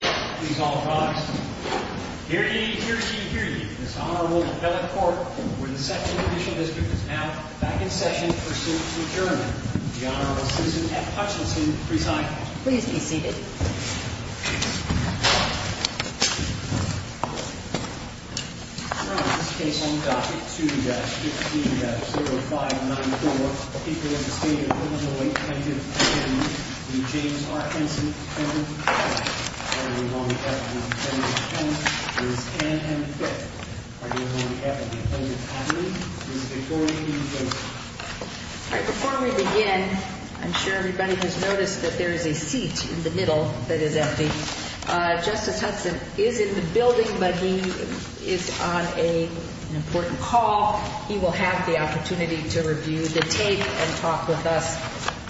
Please all rise. Hear ye, hear ye, hear ye. This Honorable Appellate Court, where the section of the judicial district is now back in session, pursuant to adjournment. The Honorable Citizen F. Hutchinson presides. From this case on docket 2-15-0594, people of the state of Illinois County, the James R. Henson family. The Honorable Appellate Attorney General is Anne M. Fitt. The Honorable Appellate Attorney General is Victoria E. Fitt. Before we begin, I'm sure everybody has noticed that there is a seat in the middle that is empty. Justice Hudson is in the building, but he is on an important call. He will have the opportunity to review the tape and talk with us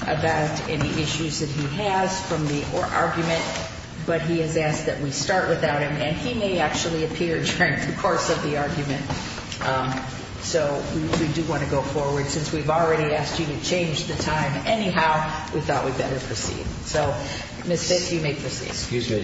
about any issues that he has from the argument. But he has asked that we start without him, and he may actually appear during the course of the argument. So we do want to go forward. Since we've already asked you to change the time anyhow, we thought we'd better proceed. So, Ms. Fitt, you may proceed. Ms. Fitt,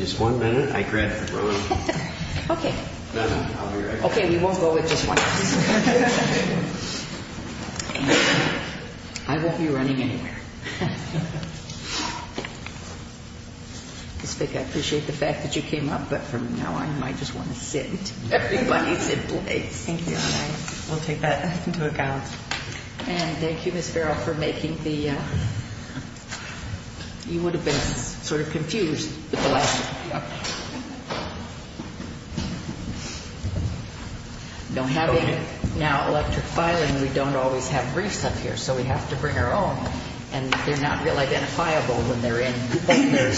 I appreciate the fact that you came up, but from now on, I just want to sit. Everybody sit please. Thank you. We'll take that into account. And thank you, Ms. Farrell, for making the, you would have been sort of confused with the last one. Now, having electric filing, we don't always have briefs up here, so we have to bring our own, and they're not real identifiable when they're in, et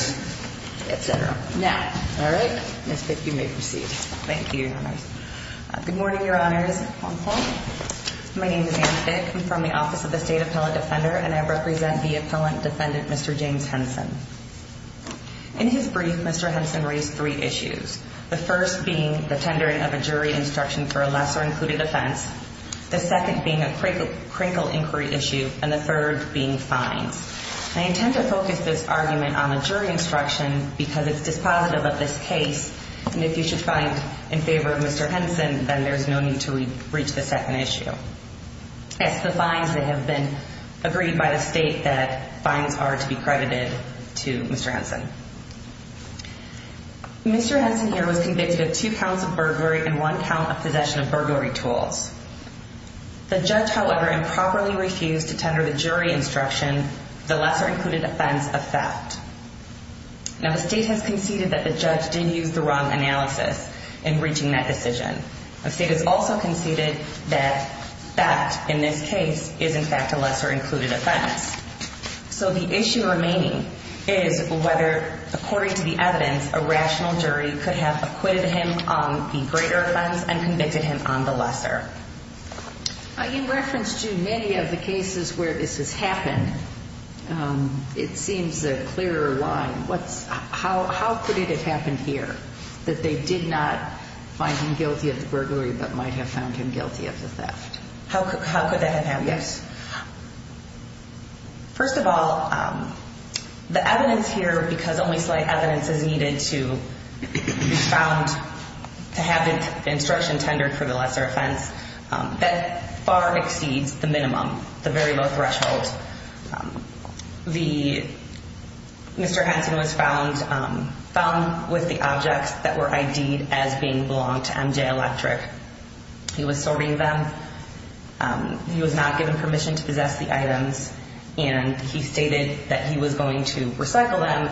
cetera. Now, all right, Ms. Fitt, you may proceed. Thank you. Good morning, Your Honors. My name is Anne Fitt. I'm from the Office of the State Appellate Defender, and I represent the appellant defendant, Mr. James Henson. In his brief, Mr. Henson raised three issues, the first being the tendering of a jury instruction for a lesser-included offense, the second being a crinkle inquiry issue, and the third being fines. I intend to focus this argument on the jury instruction because it's dispositive of this case, and if you should find in favor of Mr. Henson, then there's no need to reach the second issue. It's the fines that have been agreed by the state that fines are to be credited to Mr. Henson. Mr. Henson here was convicted of two counts of burglary and one count of possession of burglary tools. The judge, however, improperly refused to tender the jury instruction, the lesser-included offense, of theft. Now, the state has conceded that the judge did use the wrong analysis in reaching that decision. The state has also conceded that theft in this case is, in fact, a lesser-included offense. So the issue remaining is whether, according to the evidence, a rational jury could have acquitted him on the greater offense and convicted him on the lesser. In reference to many of the cases where this has happened, it seems a clearer line. How could it have happened here that they did not find him guilty of the burglary but might have found him guilty of the theft? How could that have happened? Yes. First of all, the evidence here, because only slight evidence is needed to be found to have the instruction tendered for the lesser offense, that far exceeds the minimum, the very low threshold. Mr. Henson was found with the objects that were ID'd as being belonging to MJ Electric. He was serving them. He was not given permission to possess the items, and he stated that he was going to recycle them,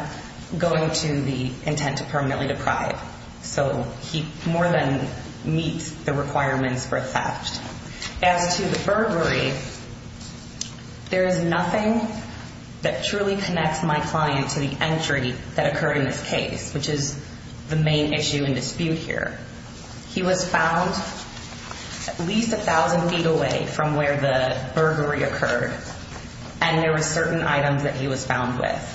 going to the intent to permanently deprive. So he more than meets the requirements for theft. As to the burglary, there is nothing that truly connects my client to the entry that occurred in this case, which is the main issue and dispute here. He was found at least a thousand feet away from where the burglary occurred, and there were certain items that he was found with.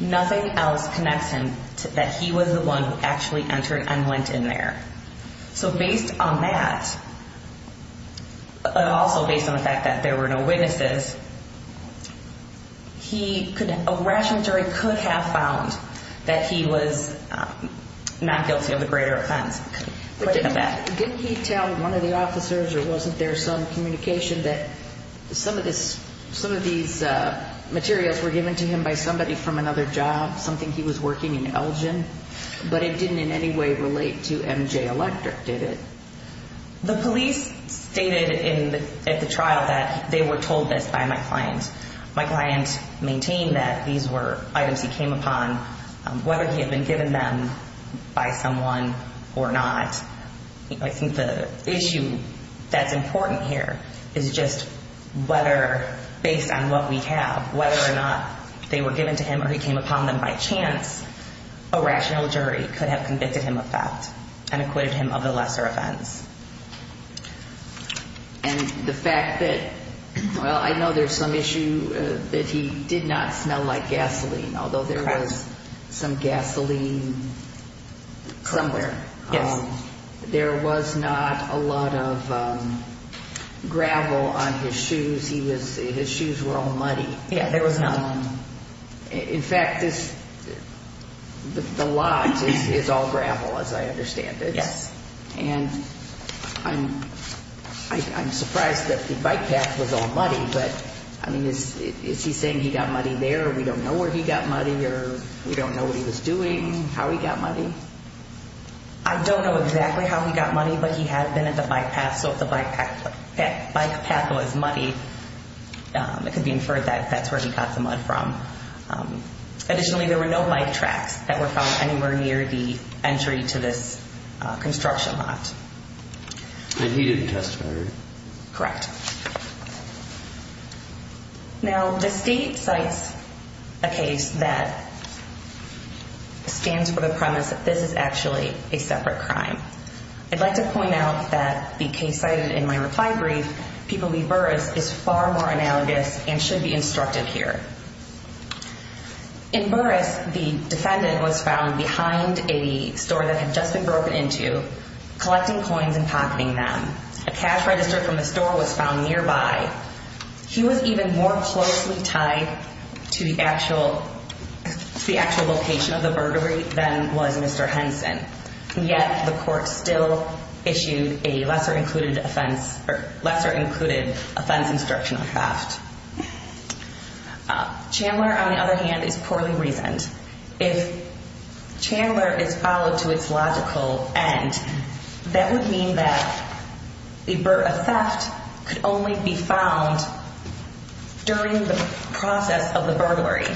Nothing else connects him to that he was the one who actually entered and went in there. So based on that, but also based on the fact that there were no witnesses, a rational jury could have found that he was not guilty of the greater offense. Didn't he tell one of the officers or wasn't there some communication that some of these materials were given to him by somebody from another job, something he was working in Elgin? But it didn't in any way relate to MJ Electric, did it? The police stated at the trial that they were told this by my client. My client maintained that these were items he came upon, whether he had been given them by someone or not. I think the issue that's important here is just whether, based on what we have, whether or not they were given to him or he came upon them by chance, a rational jury could have convicted him of theft and acquitted him of the lesser offense. And the fact that, well, I know there's some issue that he did not smell like gasoline, although there was some gasoline somewhere. There was not a lot of gravel on his shoes. His shoes were all muddy. Yeah, there was none. In fact, the lot is all gravel, as I understand it. Yes. And I'm surprised that the bike path was all muddy. But, I mean, is he saying he got muddy there or we don't know where he got muddy or we don't know what he was doing, how he got muddy? I don't know exactly how he got muddy, but he had been at the bike path, so if the bike path was muddy, it could be inferred that that's where he got the mud from. Additionally, there were no bike tracks that were found anywhere near the entry to this construction lot. And he didn't testify, right? Correct. Now, the state cites a case that stands for the premise that this is actually a separate crime. I'd like to point out that the case cited in my reply brief, people leave Burris, is far more analogous and should be instructed here. In Burris, the defendant was found behind a store that had just been broken into, collecting coins and pocketing them. A cash register from the store was found nearby. He was even more closely tied to the actual location of the burglary than was Mr. Henson. Yet, the court still issued a lesser-included offense instruction on theft. Chandler, on the other hand, is poorly reasoned. If Chandler is followed to its logical end, that would mean that a theft could only be found during the process of the burglary.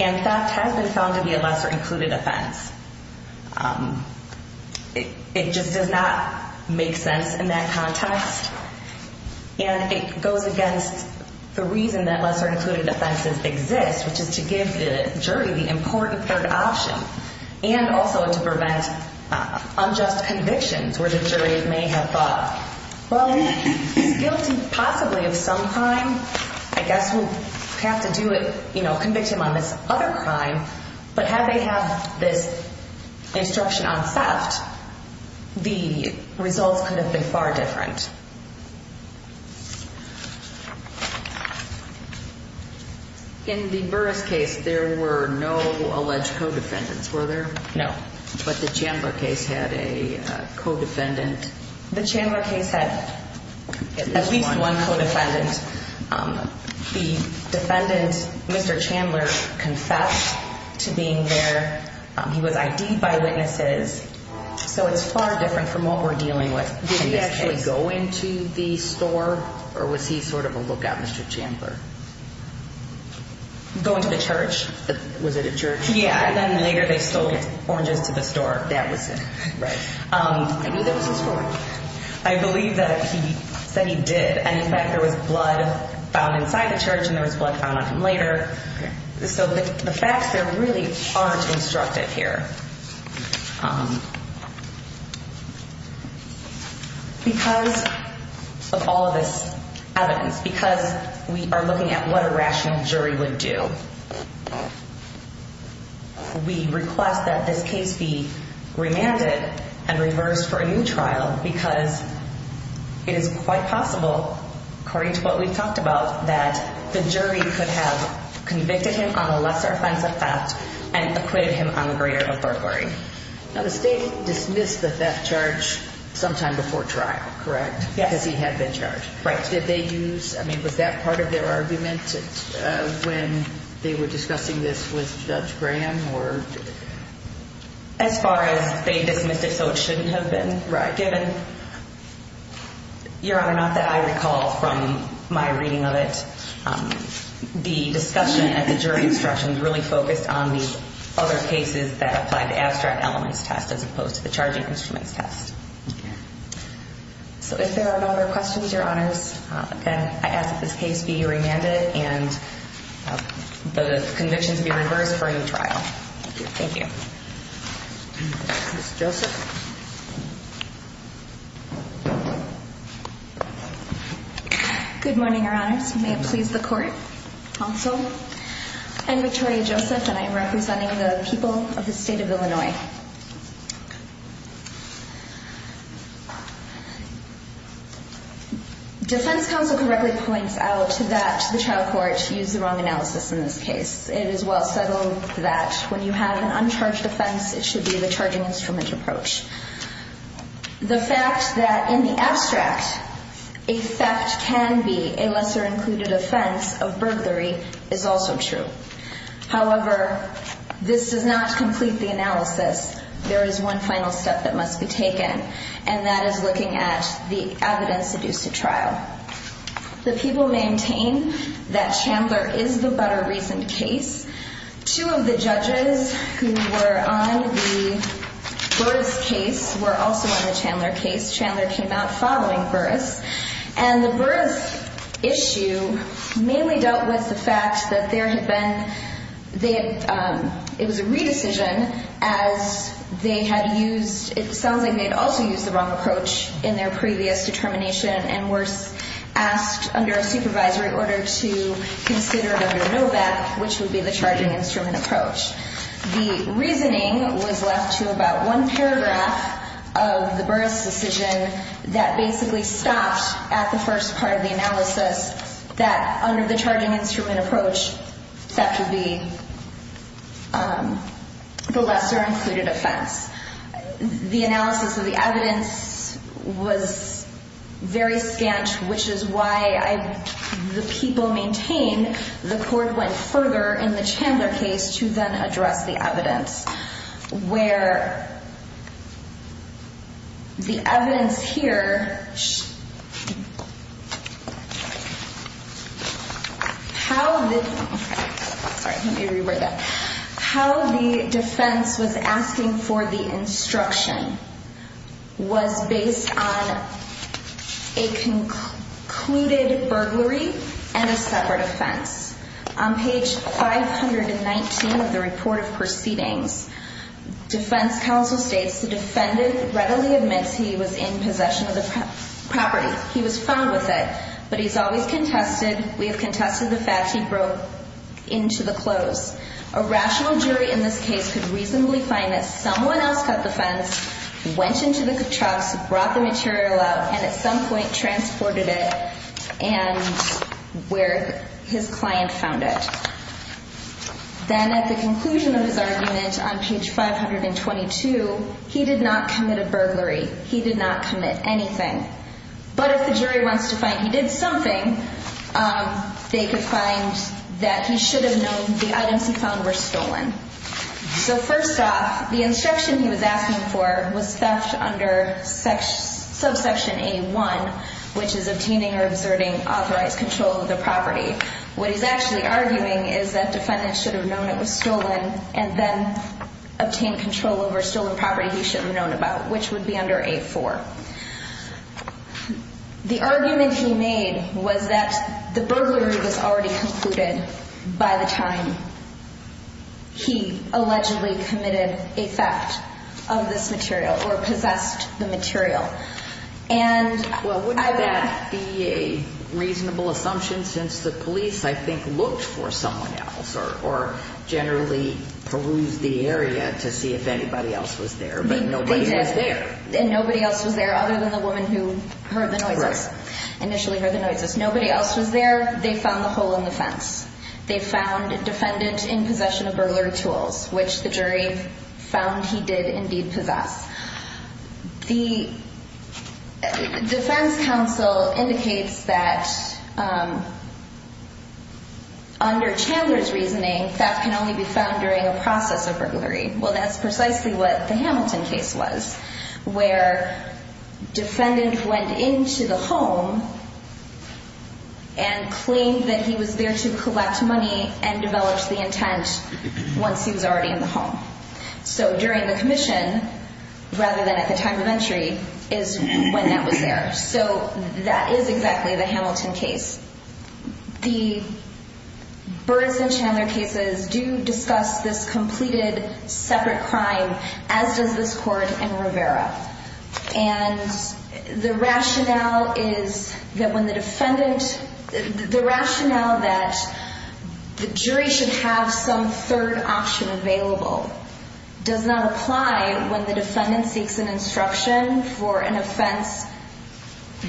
And theft has been found to be a lesser-included offense. It just does not make sense in that context. And it goes against the reason that lesser-included offenses exist, which is to give the jury the important third option. And also to prevent unjust convictions where the jury may have thought, well, he's guilty possibly of some crime. I guess we'll have to do it, you know, convict him on this other crime. But had they had this instruction on theft, the results could have been far different. In the Burris case, there were no alleged co-defendants, were there? No. But the Chandler case had a co-defendant. The Chandler case had at least one co-defendant. The defendant, Mr. Chandler, confessed to being there. He was ID'd by witnesses. So it's far different from what we're dealing with in this case. Did he actually go into the store, or was he sort of a lookout, Mr. Chandler? Go into the church? Was it a church? Yeah. And then later they sold oranges to the store. That was it. Right. I knew there was a store. I believe that he said he did. And, in fact, there was blood found inside the church, and there was blood found on him later. So the facts there really aren't instructed here. Because of all of this evidence, because we are looking at what a rational jury would do, we request that this case be remanded and reversed for a new trial, because it is quite possible, according to what we've talked about, that the jury could have convicted him on a lesser offensive theft and acquitted him on greater perjury. Now, the state dismissed the theft charge sometime before trial, correct? Yes. Because he had been charged. Right. What charge did they use? I mean, was that part of their argument when they were discussing this with Judge Graham? As far as they dismissed it so it shouldn't have been given? Right. Your Honor, not that I recall from my reading of it. The discussion at the jury instructions really focused on the other cases that applied the abstract elements test as opposed to the charging instruments test. So if there are no other questions, Your Honors, then I ask that this case be remanded and the conviction to be reversed for a new trial. Thank you. Thank you. Ms. Joseph. Good morning, Your Honors. May it please the court, counsel. I'm Victoria Joseph, and I am representing the people of the state of Illinois. Defense counsel correctly points out that the trial court used the wrong analysis in this case. It is well settled that when you have an uncharged offense, it should be the charging instrument approach. The fact that in the abstract a theft can be a lesser included offense of burglary is also true. However, this does not complete the analysis. There is one final step that must be taken. And that is looking at the evidence seduced to trial. The people maintain that Chandler is the better reasoned case. Two of the judges who were on the Burr's case were also on the Chandler case. Chandler came out following Burr's. And the Burr's issue mainly dealt with the fact that there had been, it was a re-decision as they had used, it sounds like they had also used the wrong approach in their previous determination and were asked under a supervisory order to consider it under NOVAC, which would be the charging instrument approach. The reasoning was left to about one paragraph of the Burr's decision that basically stopped at the first part of the analysis that under the charging instrument approach, theft would be the lesser included offense. The analysis of the evidence was very scant, which is why the people maintain the court went further in the Chandler case to then address the evidence. Where the evidence here, how the defense was asking for the instruction was based on a concluded burglary and a separate offense. On page 519 of the report of proceedings, defense counsel states, the defendant readily admits he was in possession of the property. He was found with it, but he's always contested. We have contested the fact he broke into the clothes. A rational jury in this case could reasonably find that someone else cut the fence, went into the trucks, brought the material out, and at some point transported it and where his client found it. Then at the conclusion of his argument on page 522, he did not commit a burglary. He did not commit anything. But if the jury wants to find he did something, they could find that he should have known the items he found were stolen. So first off, the instruction he was asking for was theft under subsection A1, which is obtaining or observing authorized control of the property. What he's actually arguing is that the defendant should have known it was stolen and then obtained control over a stolen property he should have known about, which would be under A4. The argument he made was that the burglary was already concluded by the time he allegedly committed a theft of this material or possessed the material. Well, wouldn't that be a reasonable assumption since the police, I think, looked for someone else or generally perused the area to see if anybody else was there, but nobody was there. And nobody else was there other than the woman who heard the noises, initially heard the noises. Nobody else was there. They found the hole in the fence. They found defendant in possession of burglary tools, which the jury found he did indeed possess. The defense counsel indicates that under Chandler's reasoning, theft can only be found during a process of burglary. Well, that's precisely what the Hamilton case was, where defendant went into the home and claimed that he was there to collect money and developed the intent once he was already in the home. So during the commission rather than at the time of entry is when that was there. So that is exactly the Hamilton case. The Byrds and Chandler cases do discuss this completed separate crime, as does this court in Rivera. And the rationale is that when the defendant, the rationale that the jury should have some third option available does not apply when the defendant seeks an instruction for an offense,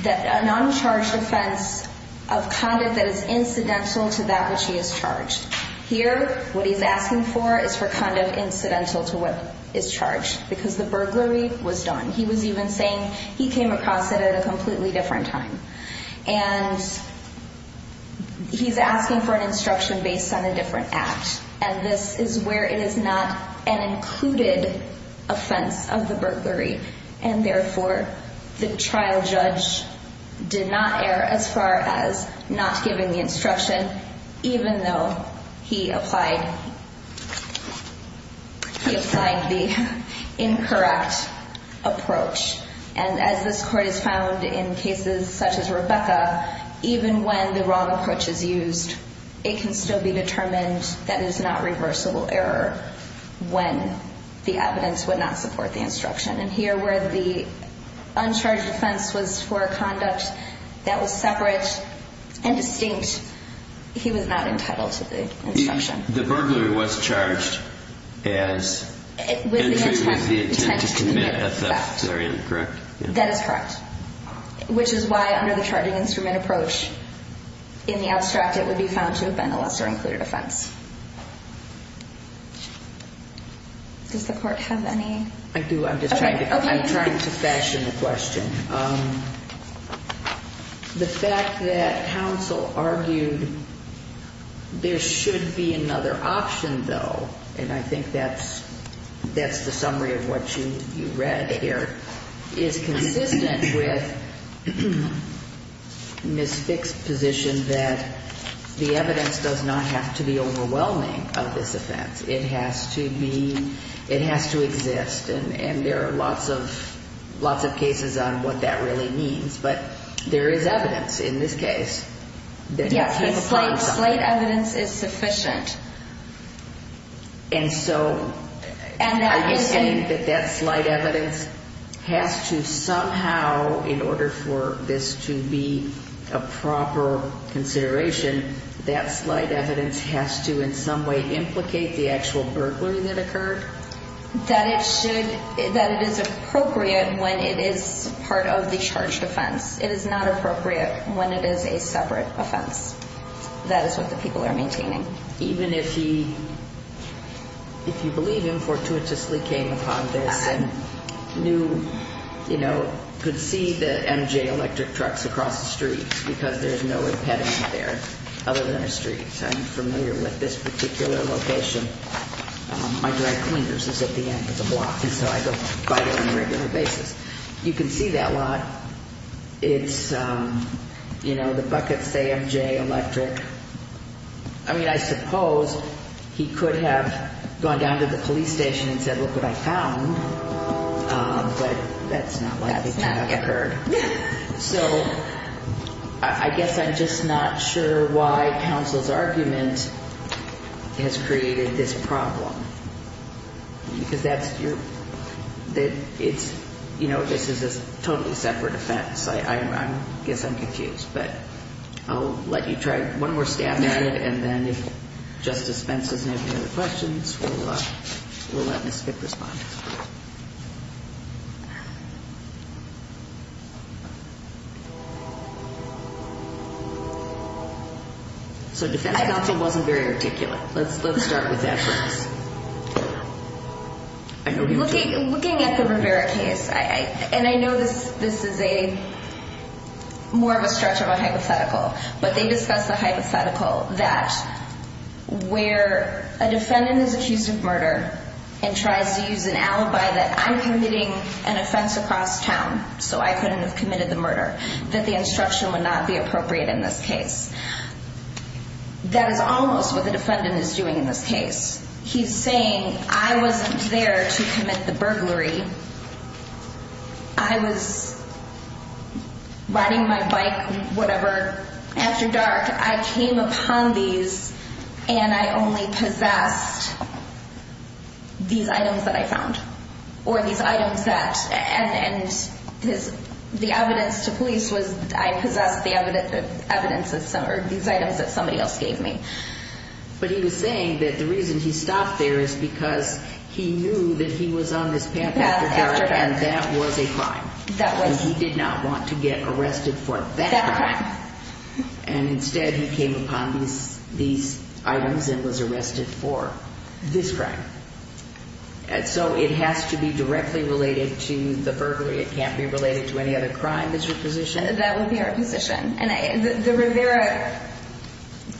an uncharged offense of conduct that is incidental to that which he has charged. Here, what he's asking for is for conduct incidental to what is charged, because the burglary was done. He was even saying he came across it at a completely different time. And he's asking for an instruction based on a different act. And this is where it is not an included offense of the burglary. And therefore, the trial judge did not err as far as not giving the instruction, even though he applied the incorrect approach. And as this court has found in cases such as Rebecca, even when the wrong approach is used, it can still be determined that it is not reversible error when the evidence would not support the instruction. And here where the uncharged offense was for a conduct that was separate and distinct, he was not entitled to the instruction. The burglary was charged as entry with the intent to commit a theft. Is that correct? That is correct. Which is why under the charging instrument approach, in the abstract it would be found to have been a lesser included offense. Does the court have any? I do. I'm just trying to fashion the question. The fact that counsel argued there should be another option, though, and I think that's the summary of what you read here, is consistent with Ms. Fick's position that the evidence does not have to be overwhelming of this offense. It has to be, it has to exist. And there are lots of cases on what that really means. But there is evidence in this case. Yes, slight evidence is sufficient. And so are you saying that that slight evidence has to somehow, in order for this to be a proper consideration, that slight evidence has to in some way implicate the actual burglary that occurred? That it should, that it is appropriate when it is part of the charged offense. It is not appropriate when it is a separate offense. That is what the people are maintaining. Even if he, if you believe him, fortuitously came upon this and knew, you know, could see the MJ electric trucks across the street, because there's no impediment there other than a street. I'm familiar with this particular location. My dry cleaners is at the end of the block, and so I go by there on a regular basis. You can see that lot. It's, you know, the buckets say MJ electric. I mean, I suppose he could have gone down to the police station and said, look what I found. But that's not likely to have occurred. So I guess I'm just not sure why counsel's argument has created this problem. Because that's your, it's, you know, this is a totally separate offense. I guess I'm confused. But I'll let you try one more stab at it, and then if Justice Fentz doesn't have any other questions, we'll let Ms. Skip respond. So defense counsel wasn't very articulate. Let's start with that for us. Looking at the Rivera case, and I know this is a, more of a stretch of a hypothetical, but they discussed the hypothetical that where a defendant is accused of murder and tries to use an alibi that I'm committing an offense across town, so I couldn't have committed the murder, that the instruction would not be appropriate in this case. That is almost what the defendant is doing in this case. He's saying I wasn't there to commit the burglary. I was riding my bike, whatever, after dark. I came upon these, and I only possessed these items that I found, or these items that, and the evidence to police was I possessed the evidence, or these items that somebody else gave me. But he was saying that the reason he stopped there is because he knew that he was on this path after dark, and that was a crime. That was. And he did not want to get arrested for that crime. And instead he came upon these items and was arrested for this crime. And so it has to be directly related to the burglary. It can't be related to any other crime. That's your position? That would be our position. And the Rivera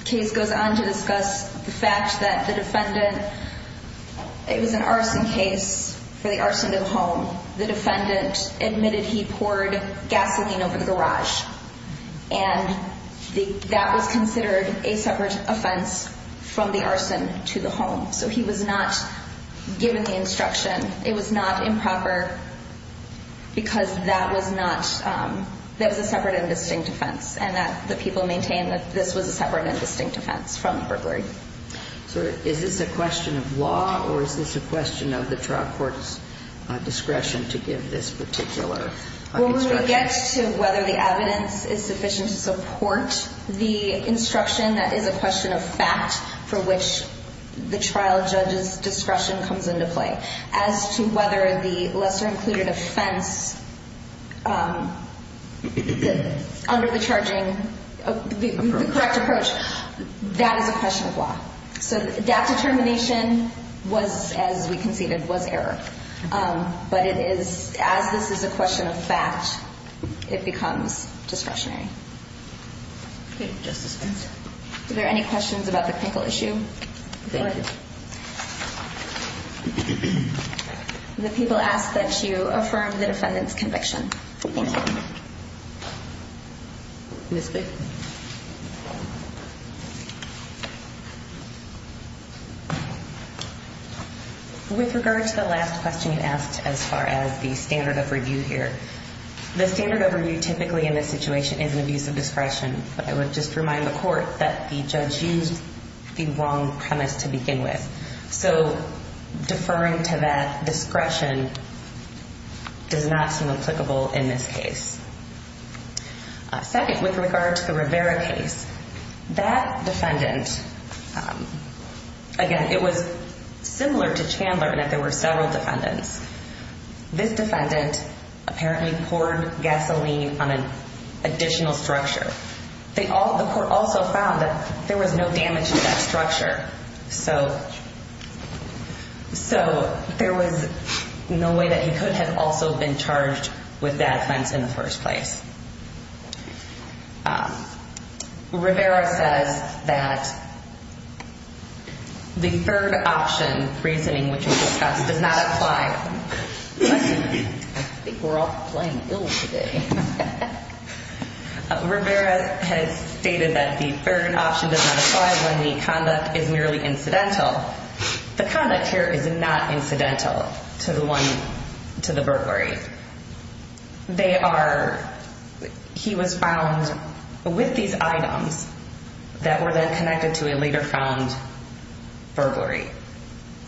case goes on to discuss the fact that the defendant, it was an arson case for the arson of a home. The defendant admitted he poured gasoline over the garage, and that was considered a separate offense from the arson to the home. So he was not given the instruction. It was not improper because that was not, that was a separate and distinct offense, and that the people maintain that this was a separate and distinct offense from the burglary. So is this a question of law, or is this a question of the trial court's discretion to give this particular instruction? When we get to whether the evidence is sufficient to support the instruction, that is a question of fact for which the trial judge's discretion comes into play. As to whether the lesser-included offense under the charging, the correct approach, that is a question of law. So that determination was, as we conceded, was error. But it is, as this is a question of fact, it becomes discretionary. Okay, Justice Spencer. Are there any questions about the clinical issue? Go ahead. The people ask that you affirm the defendant's conviction. Thank you. Ms. Blake. With regard to the last question you asked as far as the standard of review here, the standard of review typically in this situation is an abuse of discretion. But I would just remind the court that the judge used the wrong premise to begin with. So deferring to that discretion does not seem applicable in this case. Second, with regard to the Rivera case, that defendant, again, it was similar to Chandler in that there were several defendants. This defendant apparently poured gasoline on an additional structure. The court also found that there was no damage to that structure. So there was no way that he could have also been charged with that offense in the first place. Rivera says that the third option reasoning which we discussed does not apply. I think we're all playing ill today. Rivera has stated that the third option does not apply when the conduct is merely incidental. The conduct here is not incidental to the one, to the burglary. They are, he was found with these items that were then connected to a later found burglary.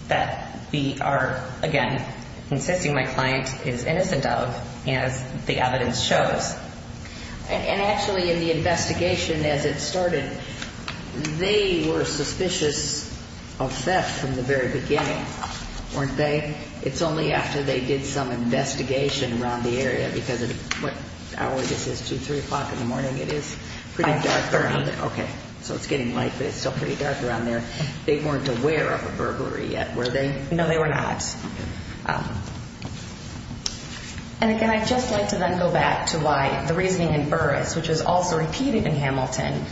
That we are, again, insisting my client is innocent of as the evidence shows. And actually in the investigation as it started, they were suspicious of theft from the very beginning, weren't they? It's only after they did some investigation around the area because of what hour this is, 2, 3 o'clock in the morning? It is pretty dark around there. Okay. So it's getting light, but it's still pretty dark around there. They weren't aware of a burglary yet, were they? No, they were not. And again, I'd just like to then go back to why the reasoning in Burris, which is also repeated in Hamilton,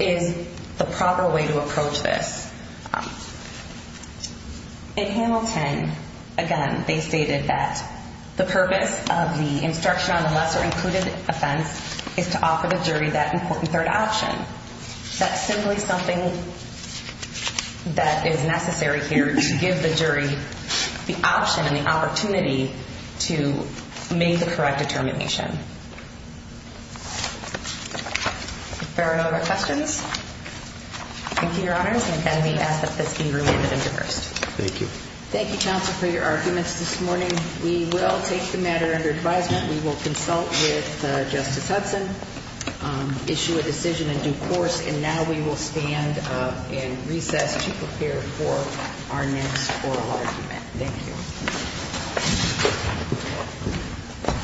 is the proper way to approach this. In Hamilton, again, they stated that the purpose of the instruction on the lesser included offense is to offer the jury that important third option. That's simply something that is necessary here to give the jury the option and the opportunity to make the correct determination. Are there any other questions? Thank you, Your Honors. And again, we ask that this be remanded into burst. Thank you. Thank you, Counsel, for your arguments this morning. We will take the matter under advisement. We will consult with Justice Hudson, issue a decision in due course, and now we will stand and recess to prepare for our next oral argument. Thank you.